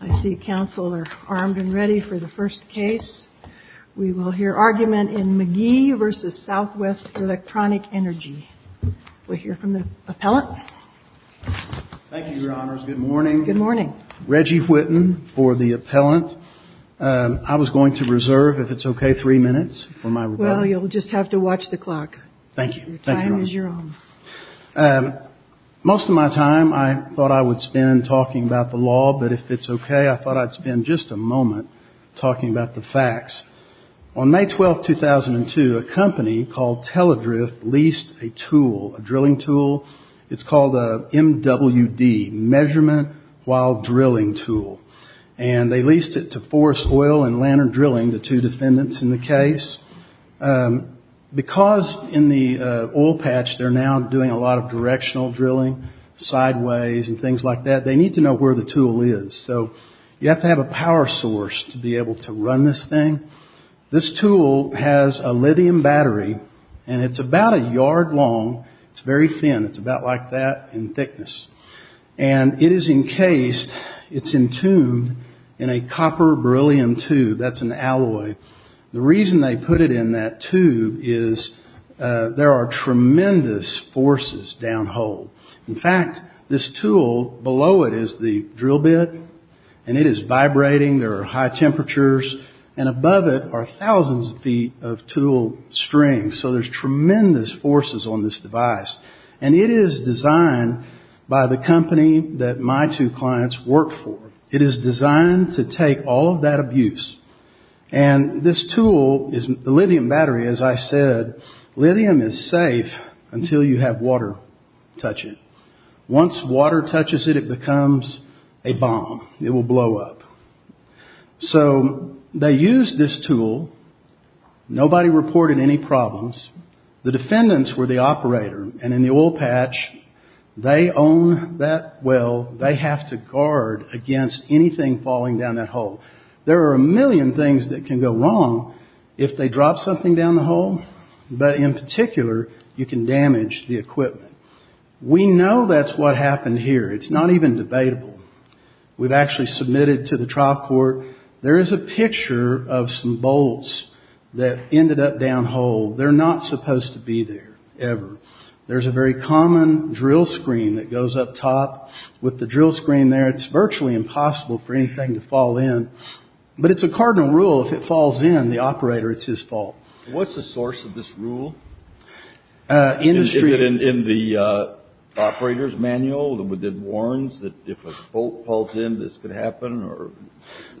I see counsel are armed and ready for the first case. We will hear argument in McGhee v. Southwest Electronic Energy. We'll hear from the appellant. Thank you, Your Honors. Good morning. Good morning. Reggie Whitten for the appellant. I was going to reserve, if it's okay, three minutes for my rebuttal. Well, you'll just have to watch the clock. Thank you. Your time is your own. Most of my time I thought I would spend talking about the law, but if it's okay, I thought I'd spend just a moment talking about the facts. On May 12, 2002, a company called Teladrift leased a tool, a drilling tool. It's called a MWD, Measurement While Drilling Tool. And they leased it to Forest Oil and Lantern Drilling, the two defendants in the case. Because in the oil patch they're now doing a lot of directional drilling, sideways and things like that, they need to know where the tool is. So you have to have a power source to be able to run this thing. This tool has a lithium battery, and it's about a yard long. It's very thin. It's about like that in thickness. And it is encased, it's entombed in a copper beryllium tube. That's an alloy. The reason they put it in that tube is there are tremendous forces down hole. In fact, this tool, below it is the drill bit, and it is vibrating. There are high temperatures. And above it are thousands of feet of tool string. So there's tremendous forces on this device. And it is designed by the company that my two clients work for. It is designed to take all of that abuse. And this tool, the lithium battery, as I said, lithium is safe until you have water touch it. Once water touches it, it becomes a bomb. It will blow up. So they used this tool. Nobody reported any problems. The defendants were the operator. And in the oil patch, they own that well. They have to guard against anything falling down that hole. There are a million things that can go wrong if they drop something down the hole. But in particular, you can damage the equipment. We know that's what happened here. It's not even debatable. We've actually submitted to the trial court. There is a picture of some bolts that ended up down hole. They're not supposed to be there, ever. There's a very common drill screen that goes up top. With the drill screen there, it's virtually impossible for anything to fall in. But it's a cardinal rule. If it falls in, the operator, it's his fault. What's the source of this rule? In the operator's manual that warns that if a bolt falls in, this could happen?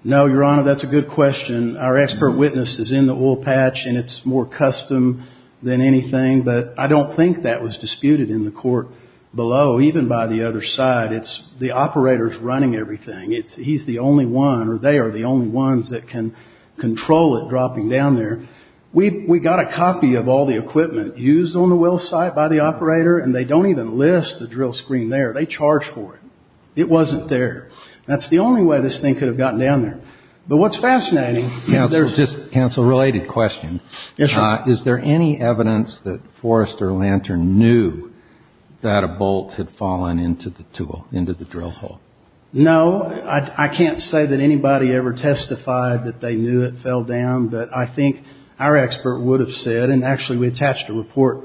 No, Your Honor, that's a good question. Our expert witness is in the oil patch, and it's more custom than anything. But I don't think that was disputed in the court below, even by the other side. It's the operator's running everything. He's the only one, or they are the only ones that can control it dropping down there. We got a copy of all the equipment used on the Will site by the operator, and they don't even list the drill screen there. They charge for it. It wasn't there. That's the only way this thing could have gotten down there. But what's fascinating... Counsel, just a counsel-related question. Yes, sir. Is there any evidence that Forrester Lantern knew that a bolt had fallen into the drill hole? No. I can't say that anybody ever testified that they knew it fell down. But I think our expert would have said, and actually we attached a report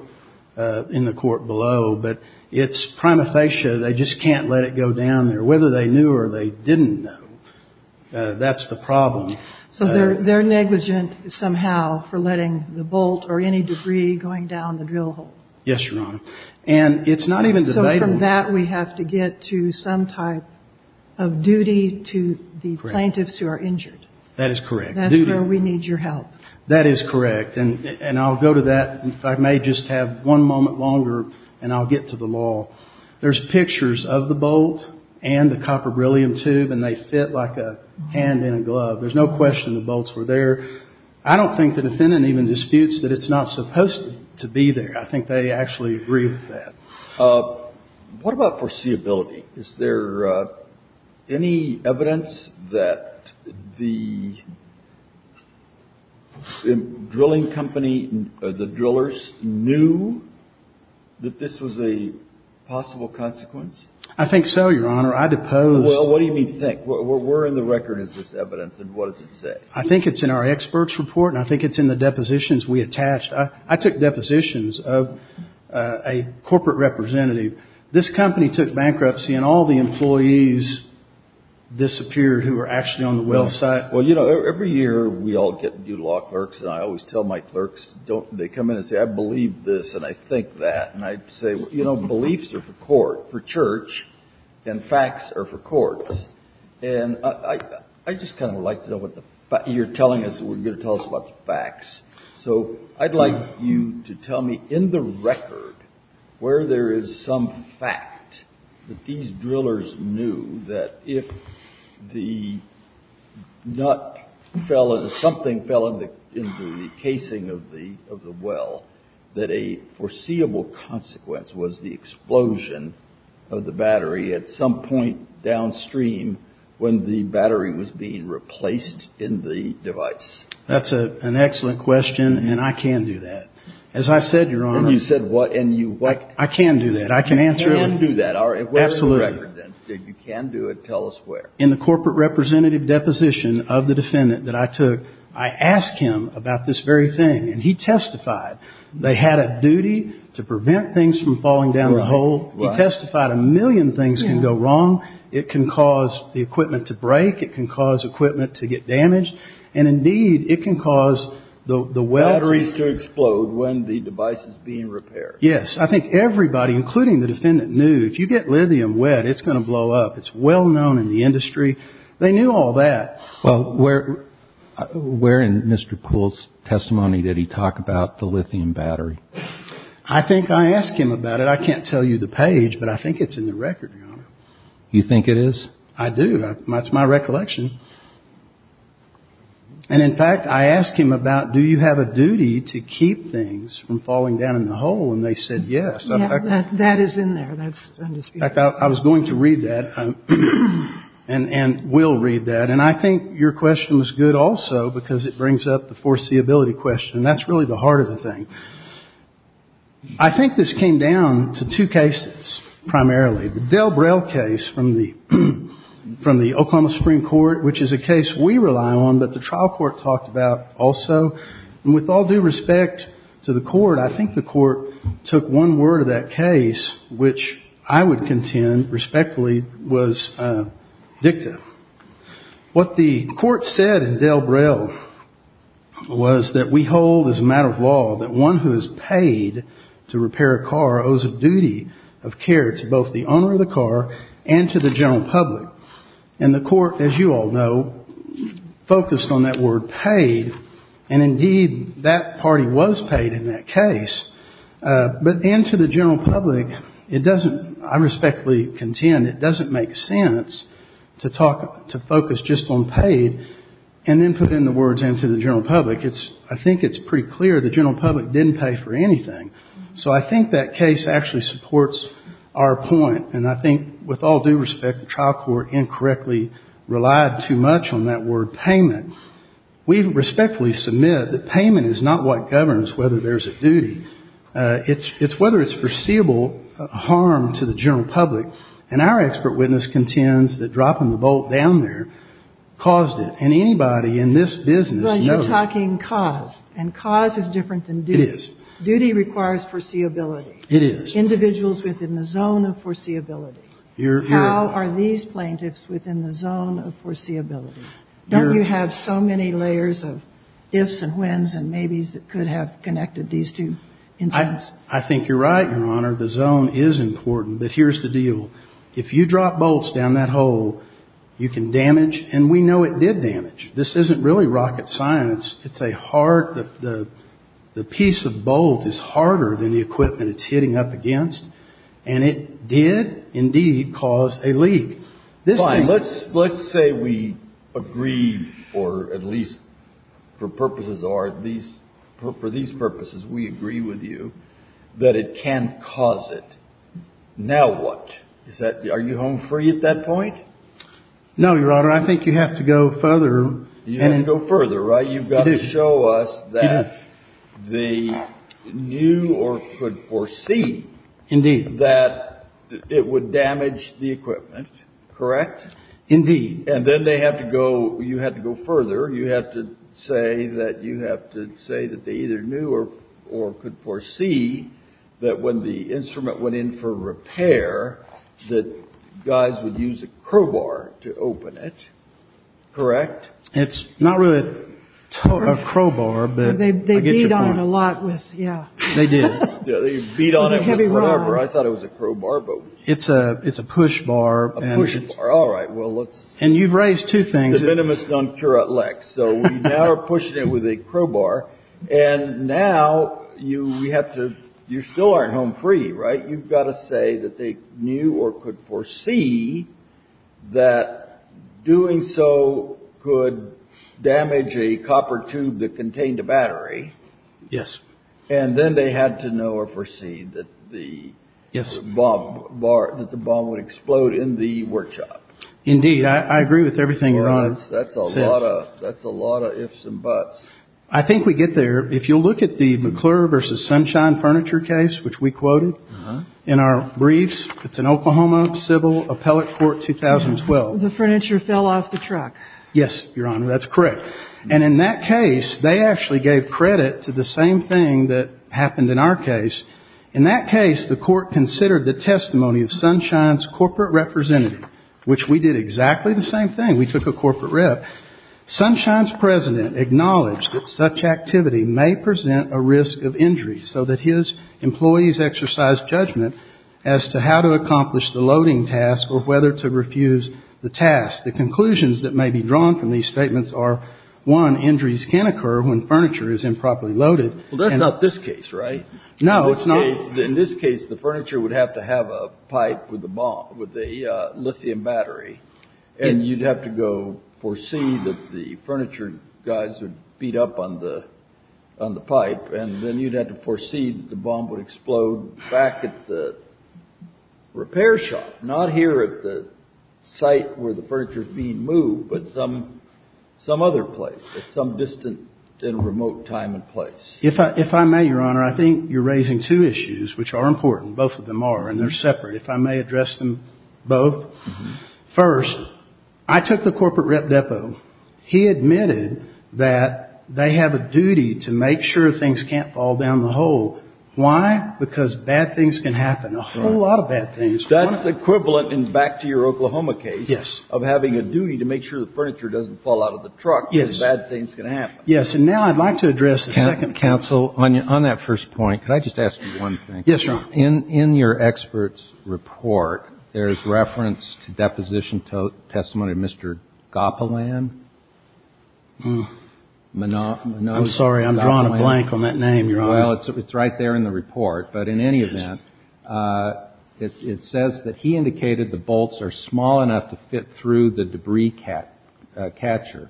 in the court below, but it's prima facie, they just can't let it go down there. Whether they knew or they didn't know, that's the problem. So they're negligent, somehow, for letting the bolt or any debris going down the drill hole? Yes, Your Honor. And it's not even debatable... So from that, we have to get to some type of duty to the plaintiffs who are injured? That is correct. That's where we need your help. That is correct. And I'll go to that. I may just have one moment longer, and I'll get to the law. There's pictures of the bolt and the copper beryllium tube, and they fit like a hand in a glove. There's no question the bolts were there. I don't think the defendant even disputes that it's not supposed to be there. I think they actually agree with that. What about foreseeability? Is there any evidence that the drilling company, the drillers, knew that this was a possible consequence? I think so, Your Honor. I depose... What do you mean, think? Where in the record is this evidence, and what does it say? I think it's in our experts' report, and I think it's in the depositions we attached. I took depositions of a corporate representative. This company took bankruptcy, and all the employees disappeared who were actually on the well site. Well, you know, every year we all get new law clerks, and I always tell my clerks, they come in and say, I believe this, and I think that. And I say, you know, beliefs are for church, and facts are for courts. And I just kind of would like to know what you're telling us, what you're going to tell us about the facts. So I'd like you to tell me in the record where there is some fact that these drillers knew that if the nut fell, if something fell in the casing of the well, that a foreseeable consequence was the explosion of the well of the battery at some point downstream when the battery was being replaced in the device. That's an excellent question, and I can do that. As I said, Your Honor... And you said what, and you... I can do that. I can answer... You can do that. Where is the record, then? You can do it. Tell us where. In the corporate representative deposition of the defendant that I took, I asked him about this very thing, and he testified. They had a duty to prevent things from falling down the hole. He testified a million things can go wrong. It can cause the equipment to break. It can cause equipment to get damaged. And indeed, it can cause the well... Batteries to explode when the device is being repaired. Yes. I think everybody, including the defendant, knew if you get lithium wet, it's going to blow up. It's well known in the industry. They knew all that. Well, where in Mr. Poole's testimony did he talk about the lithium battery? I think I asked him about it. I can't tell you the page, but I think it's in the record, Your Honor. You think it is? I do. That's my recollection. And in fact, I asked him about do you have a duty to keep things from falling down in the hole, and they said yes. Yeah. That is in there. That's undisputed. In fact, I was going to read that, and will read that. And I think your question was good also because it brings up the foreseeability question. That's really the heart of the thing. I think this came down to two cases primarily. The Del Brell case from the Oklahoma Supreme Court, which is a case we rely on, but the trial court talked about also. And with all due respect to the court, I think the court took one word of that case, which I would contend respectfully was addictive. What the court said in Del Brell was that we hold as a matter of law that one who is paid to repair a car owes a duty of care to both the owner of the car and to the general public. And the court, as you all know, focused on that word paid, and indeed that party was paid in that case. But and to the general public, it doesn't, I respectfully contend it doesn't make sense to talk, to focus just on paid and then put in the words and to the general public. I think it's pretty clear the general public didn't pay for anything. So I think that case actually supports our point. And I think with all due respect, the trial court incorrectly relied too much on that word payment. We respectfully submit that payment is not what governs whether there's a duty. It's whether it's foreseeable harm to the general public. And our expert witness contends that dropping the bolt down there caused it. And anybody in this business knows you're talking cause. And cause is different than duty. Duty requires foreseeability. It is. Individuals within the zone of foreseeability. How are these plaintiffs within the zone of foreseeability? Don't you have so many layers of ifs and whens and maybes that could have connected these two incidents? I think you're right, Your Honor. The zone is important. But here's the deal. If you drop bolts down that hole, you can damage, and we know it did damage. This isn't really rocket science. It's a hard, the piece of bolt is harder than the equipment it's hitting up against. And it did indeed cause a leak. Fine. Let's say we agree, or at least for purposes, or at least for these purposes, we agree with you that it can cause it. Now what? Is that, are you home free at that point? No, Your Honor. I think you have to go further and go further, right? You've got to show us that they knew or could foresee that it would damage the equipment. Correct? Indeed. And then they have to go, you have to go further. You have to say that you have to say that they either knew or could foresee that when the instrument went in for repair, that guys would use a crowbar to open it. Correct? It's not really a crowbar, but they beat on it a lot with, yeah. They did. Yeah, they beat on it with rubber. I thought it was a crowbar, but... It's a push bar. A push bar. All right. Well, let's... And you've raised two things. De minimis non curat lex. So we now are pushing it with a crowbar, and now you have to, you still aren't home free, right? You've got to say that they knew or could foresee that doing so could damage a copper tube that contained a battery. Yes. And then they had to know or foresee that the bomb would explode in the workshop. Indeed. I agree with everything Your Honor said. That's a lot of ifs and buts. I think we get there. If you look at the McClure v. Sunshine furniture case, which we quoted in our briefs, it's an Oklahoma civil appellate court 2012. The furniture fell off the truck. Yes, Your Honor. That's correct. And in that case, they actually gave credit to the same thing that happened in our case. In that case, the court considered the testimony of Sunshine's corporate representative, which we did exactly the same thing. We took a corporate rep. Sunshine's president acknowledged that such activity may present a risk of injury, so that his employees exercised judgment as to how to accomplish the loading task or whether to refuse the task. The conclusions that may be drawn from these statements are, one, injuries can occur when furniture is improperly loaded. Well, that's not this case, right? No, it's not. In this case, the furniture would have to have a pipe with a lithium battery, and you'd have to go foresee that the furniture guys would beat up on the pipe, and then you'd have to foresee that the bomb would explode back at the repair shop, not here at the site where the furniture is being moved, but some other place at some distant and remote time and place. If I may, Your Honor, I think you're raising two issues, which are important. Both of them are, and they're separate. If I may address them both. First, I took the corporate rep depot. He admitted that they have a duty to make sure things can't fall down the hole. Why? Because bad things can happen, a whole lot of bad things. That's equivalent, and back to your Oklahoma case, of having a duty to make sure the furniture doesn't fall out of the truck because bad things can happen. Yes, and now I'd like to address the second counsel. On that first point, could I just ask you one thing? Yes, Your Honor. In your expert's report, there's reference to deposition testimony of Mr. Gopalan. I'm sorry, I'm drawing a blank on that name, Your Honor. Well, it's right there in the report, but in any event, it says that he indicated the debris catcher,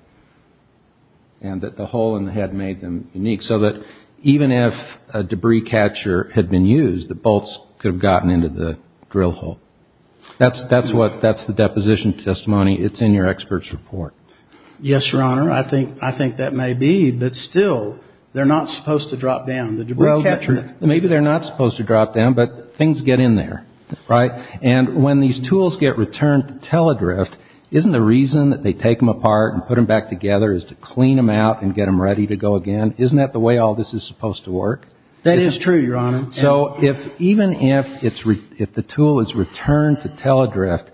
and that the hole in the head made them unique, so that even if a debris catcher had been used, the bolts could have gotten into the drill hole. That's the deposition testimony. It's in your expert's report. Yes, Your Honor. I think that may be, but still, they're not supposed to drop down, the debris catcher. Well, maybe they're not supposed to drop down, but things get in there, right? And when these and put them back together is to clean them out and get them ready to go again. Isn't that the way all this is supposed to work? That is true, Your Honor. So even if the tool is returned to Teladrift,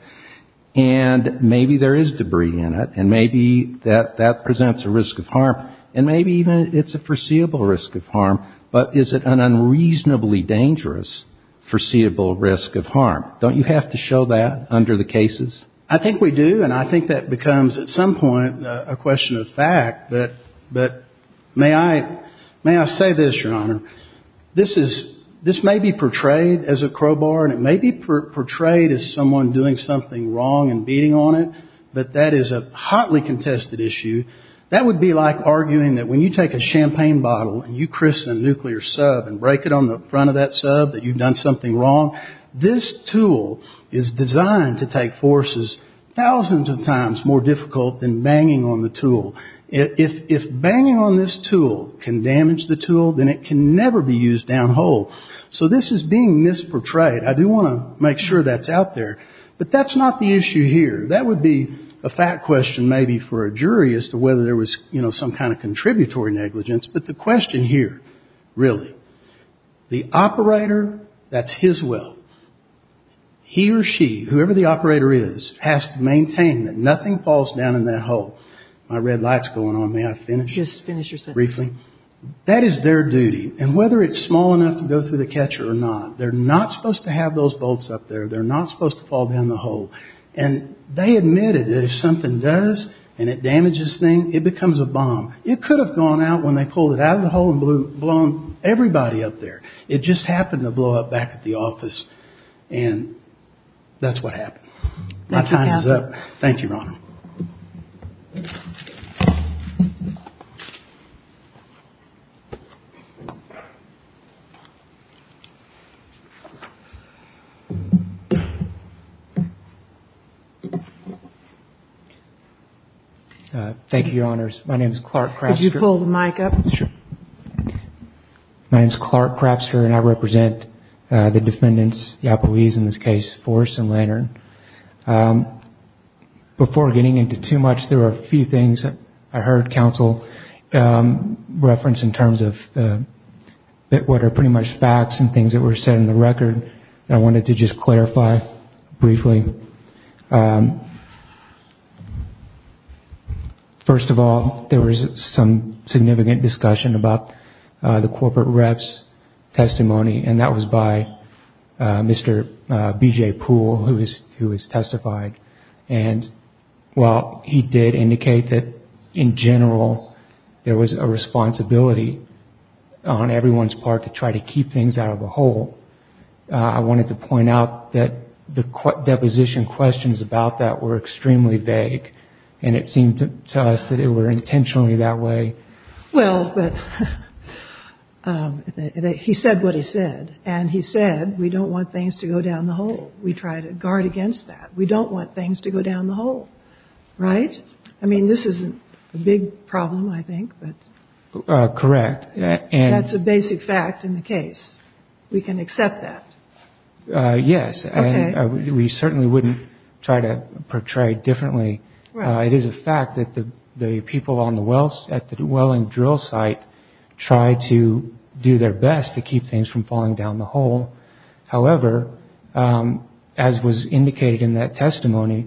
and maybe there is debris in it, and maybe that presents a risk of harm, and maybe even it's a foreseeable risk of harm, but is it an unreasonably dangerous foreseeable risk of harm? Don't you have to show that under the cases? I think we do, and I think that becomes at some point a question of fact, but may I say this, Your Honor? This may be portrayed as a crowbar, and it may be portrayed as someone doing something wrong and beating on it, but that is a hotly contested issue. That would be like arguing that when you take a champagne bottle and you crisp the nuclear sub and break it on the front of that sub that you've done something wrong. This tool is designed to take forces thousands of times more difficult than banging on the tool. If banging on this tool can damage the tool, then it can never be used down whole. So this is being misportrayed. I do want to make sure that's out there, but that's not the issue here. That would be a fact question maybe for a jury as to whether there was some kind of contributory negligence, but the question here, really, the operator, that's his will. He or she, whoever the operator is, has to maintain that nothing falls down in that hole. My red light's going on. May I finish? Just finish your sentence. Briefly. That is their duty, and whether it's small enough to go through the catcher or not, they're not supposed to have those bolts up there. They're not supposed to fall down the hole, and they admitted that if something does and it damages things, it becomes a bomb. It could have gone out when they pulled it out of the hole and blown everybody up there. It just happened to blow up back at the office, and that's what happened. My time is up. Thank you, Your Honor. Thank you, Your Honors. My name is Clark Craftster. Could you pull the mic up? Sure. My name is Clark Craftster, and I represent the defendants, the employees in this case, Force and Lantern. Before getting into too much, there are a few things I heard counsel reference in terms of what are pretty much facts and things that were said in the record that I wanted to just clarify briefly. First of all, there was some significant discussion about the corporate rep's testimony, and that was by Mr. B.J. Poole, who has testified. While he did indicate that, in general, there I wanted to point out that the deposition questions about that were extremely vague, and it seemed to us that it were intentionally that way. Well, he said what he said, and he said we don't want things to go down the hole. We try to guard against that. We don't want things to go down the hole, right? I mean, this isn't a big problem, I think. Correct. That's a basic fact in the case. We can accept that. Yes, and we certainly wouldn't try to portray it differently. It is a fact that the people at the dwelling drill site tried to do their best to keep things from falling down the hole. However, as was indicated in that testimony,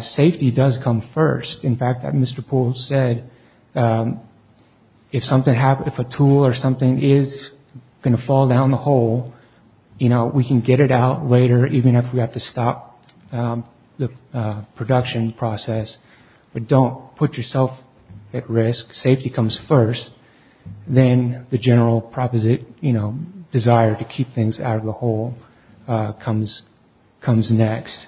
safety does come first. In fact, as Mr. Poole said, if a tool or something is going to fall down the hole, we can get it out later, even if we have to stop the production process. But don't put yourself at risk. Safety comes first. Then the general desire to keep things out of the hole comes next.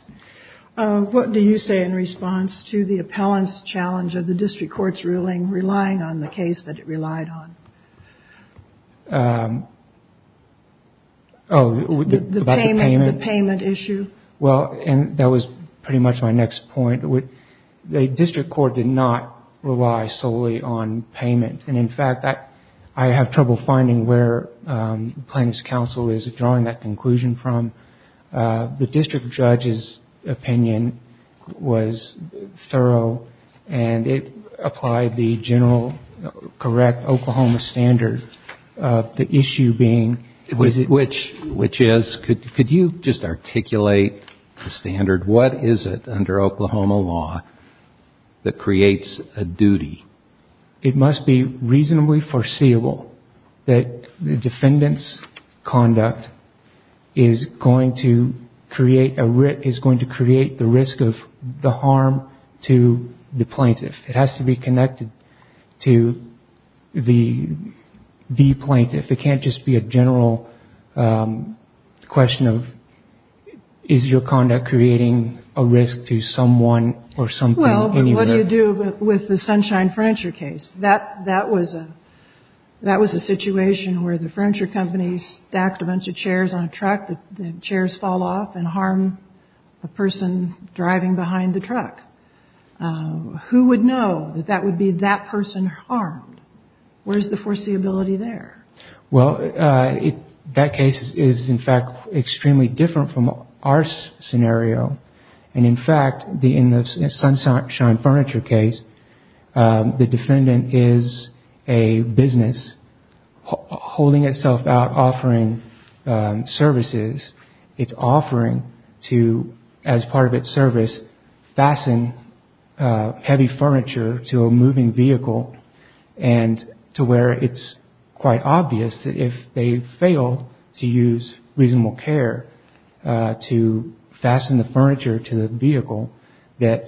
What do you say in response to the appellant's challenge of the district court's ruling relying on the case that it relied on? Oh, about the payment? The payment issue. Well, and that was pretty much my next point. The district court did not rely solely on payment. And in fact, I have trouble finding where plaintiff's counsel is drawing that conclusion from. The district judge's opinion was thorough. And it applied the general correct Oklahoma standard of the issue being Which is, could you just articulate the standard? What is it under Oklahoma law that creates a duty? It must be reasonably foreseeable that the defendant's conduct is going to create the risk of the harm to the plaintiff. It has to be connected to the plaintiff. It can't just be a general question of is your conduct creating a risk to someone or something? Well, what do you do with the Sunshine Furniture case? That was a situation where the furniture company stacked a bunch of chairs on a truck. The chairs fall off and harm a person driving behind the truck. Who would know that that would be that person harmed? Where's the foreseeability there? Well, that case is in fact extremely different from our scenario. And in fact, in the Sunshine Furniture case, the defendant is a business holding itself out offering services. It's offering to, as part of its service, fasten heavy furniture to a moving vehicle and to where it's quite obvious that if they fail to use reasonable care to fasten the furniture to the vehicle, that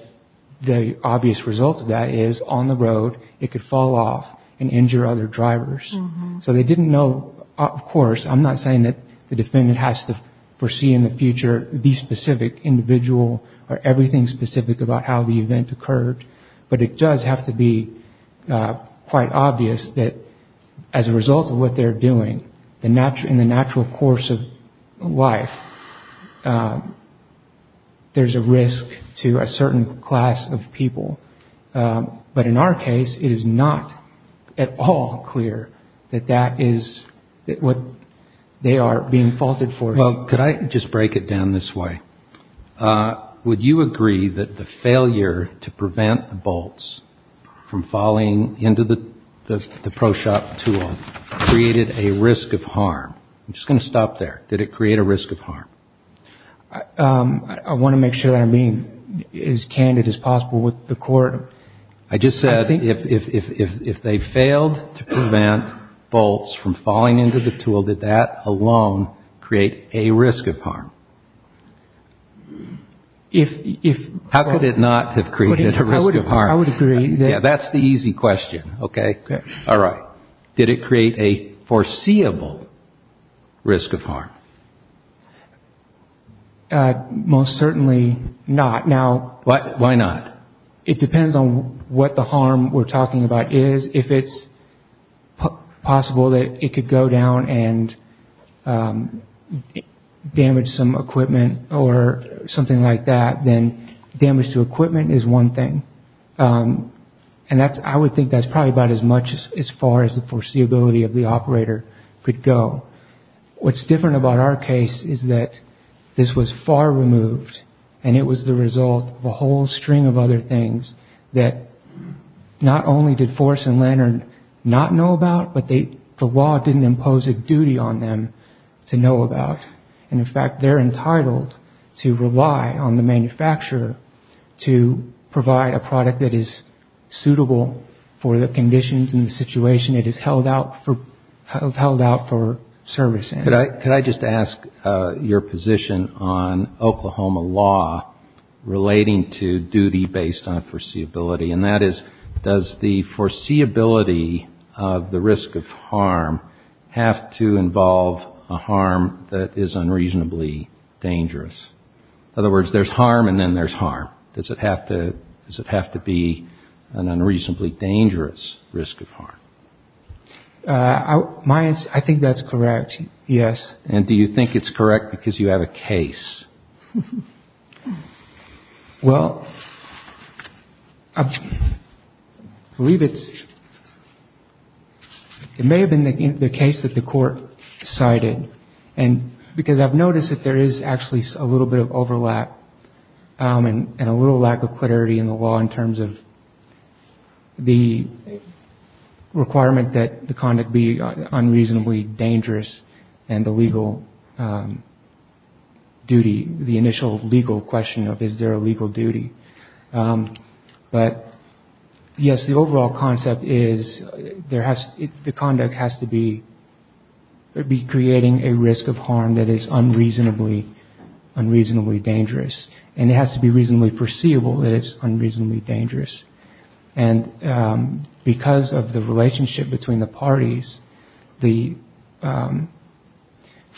the obvious result of that is on the road it could fall off and injure other drivers. So they didn't know. Of course, I'm not saying that the defendant has to foresee in the future the specific individual or everything specific about how the event occurred. But it does have to be quite obvious that as a result of what they're doing in the natural course of life, there's a risk to a certain class of people. But in our case, it is not at all clear that that is what they are being faulted for. Well, could I just break it down this way? Would you agree that the failure to prevent the bolts from falling into the Pro Shop tool created a risk of harm? I'm just going to stop there. Did it create a risk of harm? I want to make sure I'm being as candid as possible with the Court. I just said if they failed to prevent bolts from falling into the tool, did that alone create a risk of harm? How could it not have created a risk of harm? I would agree. That's the easy question. Did it create a foreseeable risk of harm? Most certainly not. Why not? It depends on what the harm we're talking about is. If it's possible that it could go down and damage some equipment or something like that, then damage to equipment is one thing. I would think that's probably about as far as the foreseeability of the operator could go. What's different about our case is that this was far removed and it was the result of a whole string of other things that not only did Forrest and Leonard not know about, but the law didn't impose a duty on them to know about. In fact, they're entitled to rely on the manufacturer to provide a product that is suitable for the conditions and the situation it is held out for service in. Could I just ask your position on Oklahoma law relating to duty based on foreseeability? And that is, does the foreseeability of the risk of harm have to involve a harm that is unreasonably dangerous? In other words, there's harm and then there's harm. Does it have to be an unreasonably dangerous risk of harm? I think that's correct, yes. And do you think it's correct because you have a case? Well, I believe it may have been the case that the court cited because I've noticed that there is actually a little bit of overlap and a little lack of clarity in the law in terms of the requirement that the conduct be unreasonably dangerous and the legal duty, the initial legal question of is there a legal duty. But yes, the overall concept is the conduct has to be creating a risk of harm that is unreasonably dangerous. And it has to be reasonably foreseeable that it's unreasonably dangerous. And because of the relationship between the parties, the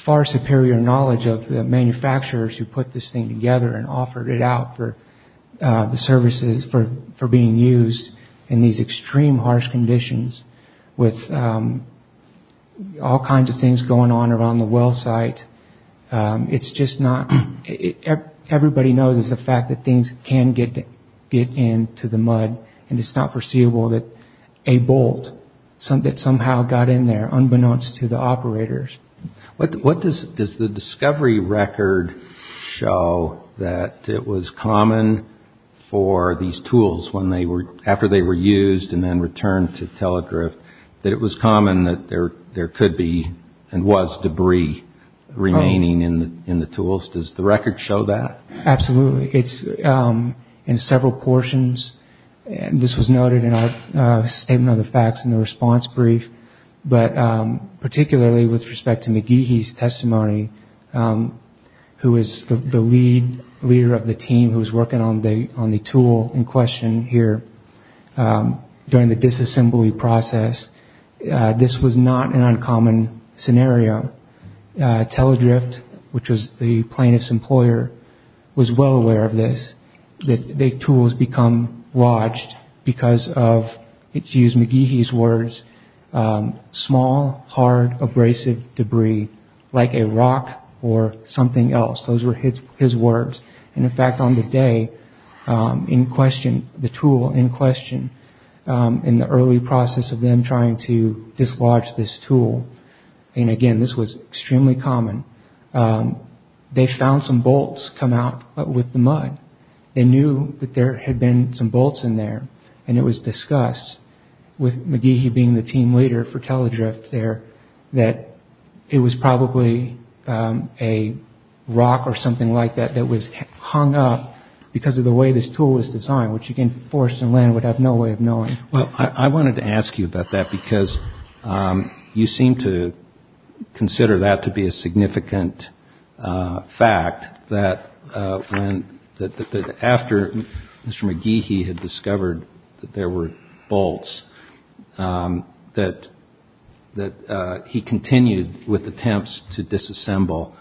far superior knowledge of the manufacturers who put this thing together and offered it out for the services for being used in these extreme harsh conditions with all kinds of things going on around the well site, it's just not, everybody knows the fact that things can get into the mud and it's not foreseeable that a bolt that somehow got in there unbeknownst to the operators. What does the discovery record show that it was common for these tools after they were used and then returned to Telegryph that it was common that there could be and was debris remaining in the tools? Does the record show that? Absolutely. It's in several portions. This was noted in our statement of the facts in the response brief. But particularly with respect to McGeehee's testimony, who is the lead leader of the team who was working on the tool in question here during the disassembly process, this was not an uncommon scenario. Telegryph, which was the plaintiff's employer, was well aware of this, that the tools become lodged because of, to use McGeehee's words, small, hard, abrasive debris like a rock or something else. Those were his words. In fact, on the day in question, the tool in question, in the early process of them trying to dislodge this tool, and again, this was extremely common, they found some bolts come out with the mud. They knew that there had been some bolts in there and it was discussed with McGeehee being the team leader for Telegryph there that it was probably a rock or something like that that was hung up because of the way this tool was designed, Well, I wanted to ask you about that because you seem to consider that to be a significant fact that after Mr. McGeehee had discovered that there were bolts, that he continued with attempts to disassemble.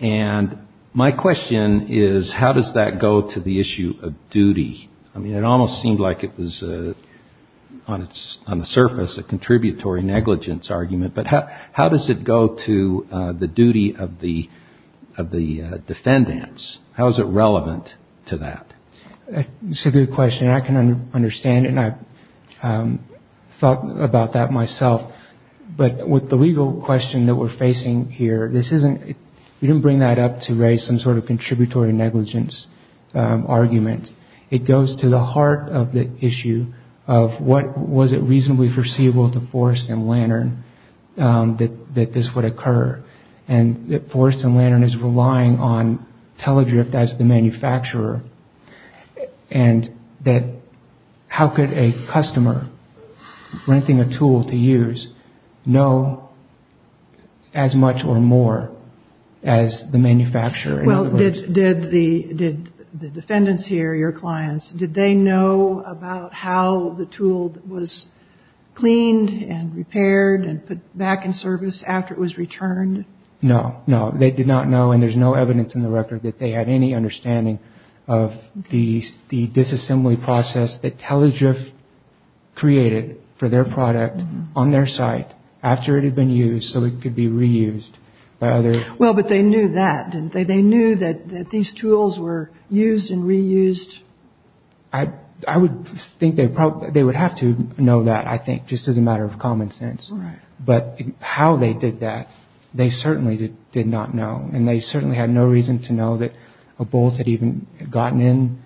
And my question is, how does that go to the issue of duty? I mean, it almost seemed like it was on the surface a contributory negligence argument, but how does it go to the duty of the defendants? How is it relevant to that? That's a good question. I can understand it and I've thought about that myself. But with the legal question that we're facing here, we didn't bring that up to raise some sort of contributory negligence argument. It goes to the heart of the issue of was it reasonably foreseeable to Forrest and Lantern that this would occur? And Forrest and Lantern is relying on Telegryph as the manufacturer and how could a customer renting a tool to use know as much or more as the manufacturer? Well, did the defendants here, your clients, did they know about how the tool was cleaned and repaired and put back in service after it was returned? No, no. They did not know and there's no evidence in the record that they had any understanding of the disassembly process that Telegryph created for their product on their site after it had been used so it could be reused by others. Well, but they knew that, didn't they? They knew that these tools were used and reused? I would think they would have to know that, I think, just as a matter of common sense. But how they did that, they certainly did not know and they certainly had no reason to know that a bolt had even gotten in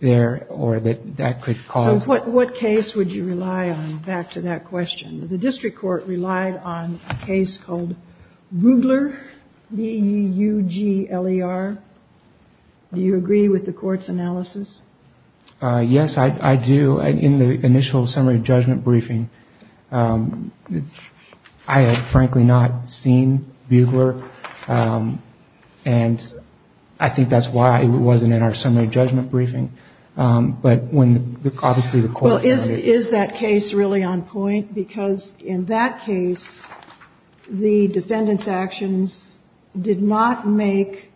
there or that that could cause... So what case would you rely on back to that question? The district court relied on a case called Bugler, B-U-G-L-E-R. Do you agree with the court's analysis? Yes, I do. In the initial summary judgment briefing, I had frankly not seen Bugler and I think that's why it wasn't in our summary judgment briefing. But when obviously the court... Well, is that case really on point? Because in that case, the defendant's actions did not make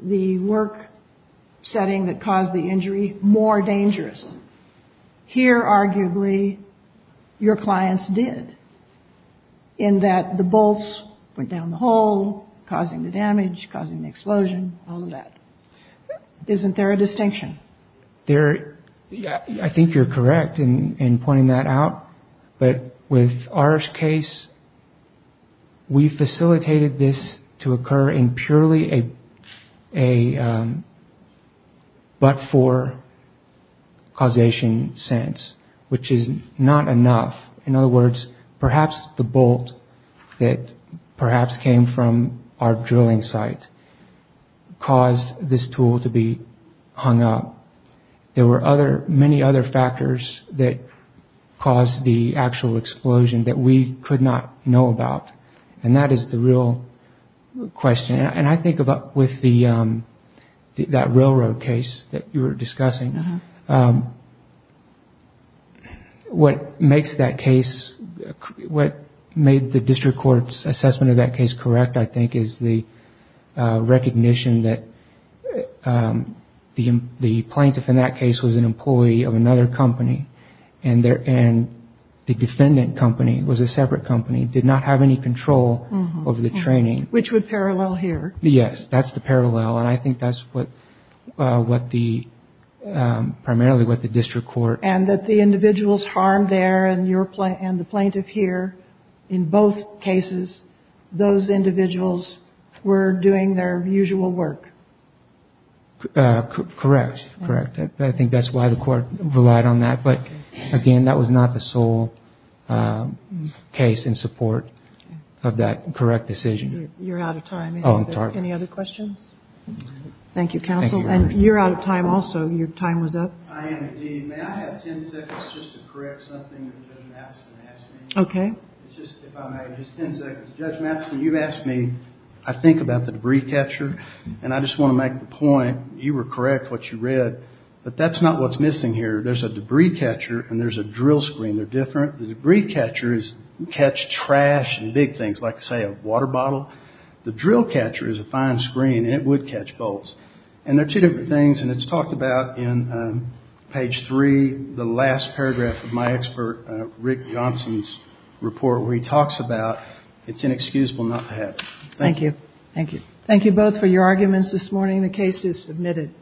the work setting that caused the injury more dangerous. Here, arguably, your clients did, in that the bolts went down the hole, causing the damage, causing the explosion, all of that. Isn't there a distinction? I think you're correct in pointing that out. But with our case, we facilitated this to occur in purely a but-for causation sense, which is not enough. In other words, perhaps the bolt that perhaps came from our drilling site caused this tool to be hung up. There were many other factors that caused the actual explosion that we could not know about. And that is the real question. And I think with that railroad case that you were discussing, what made the district court's assessment of that case correct, I think, is the recognition that the plaintiff in that case was an employee of another company and the defendant company was a separate company, did not have any control over the training. Which would parallel here. Yes, that's the parallel. And I think that's primarily what the district court... And that the individuals harmed there and the plaintiff here, in both cases, those individuals were doing their usual work. Correct. I think that's why the court relied on that. But again, that was not the sole case in support of that correct decision. You're out of time. Oh, I'm sorry. Any other questions? Thank you, counsel. And you're out of time also. Your time was up. I am indeed. May I have 10 seconds just to correct something that Judge Madison asked me? Okay. If I may, just 10 seconds. Judge Madison, you asked me, I think, about the debris catcher. And I just want to make the point, you were correct what you read, but that's not what's missing here. There's a debris catcher and there's a drill screen. They're different. The debris catchers catch trash and big things, like, say, a water bottle. The drill catcher is a fine screen and it would catch bolts. And they're two different things and it's talked about in page 3, the last paragraph of my expert Rick Johnson's report where he talks about it's inexcusable not to have. Thank you. Thank you. Thank you both for your arguments this morning. The case is submitted.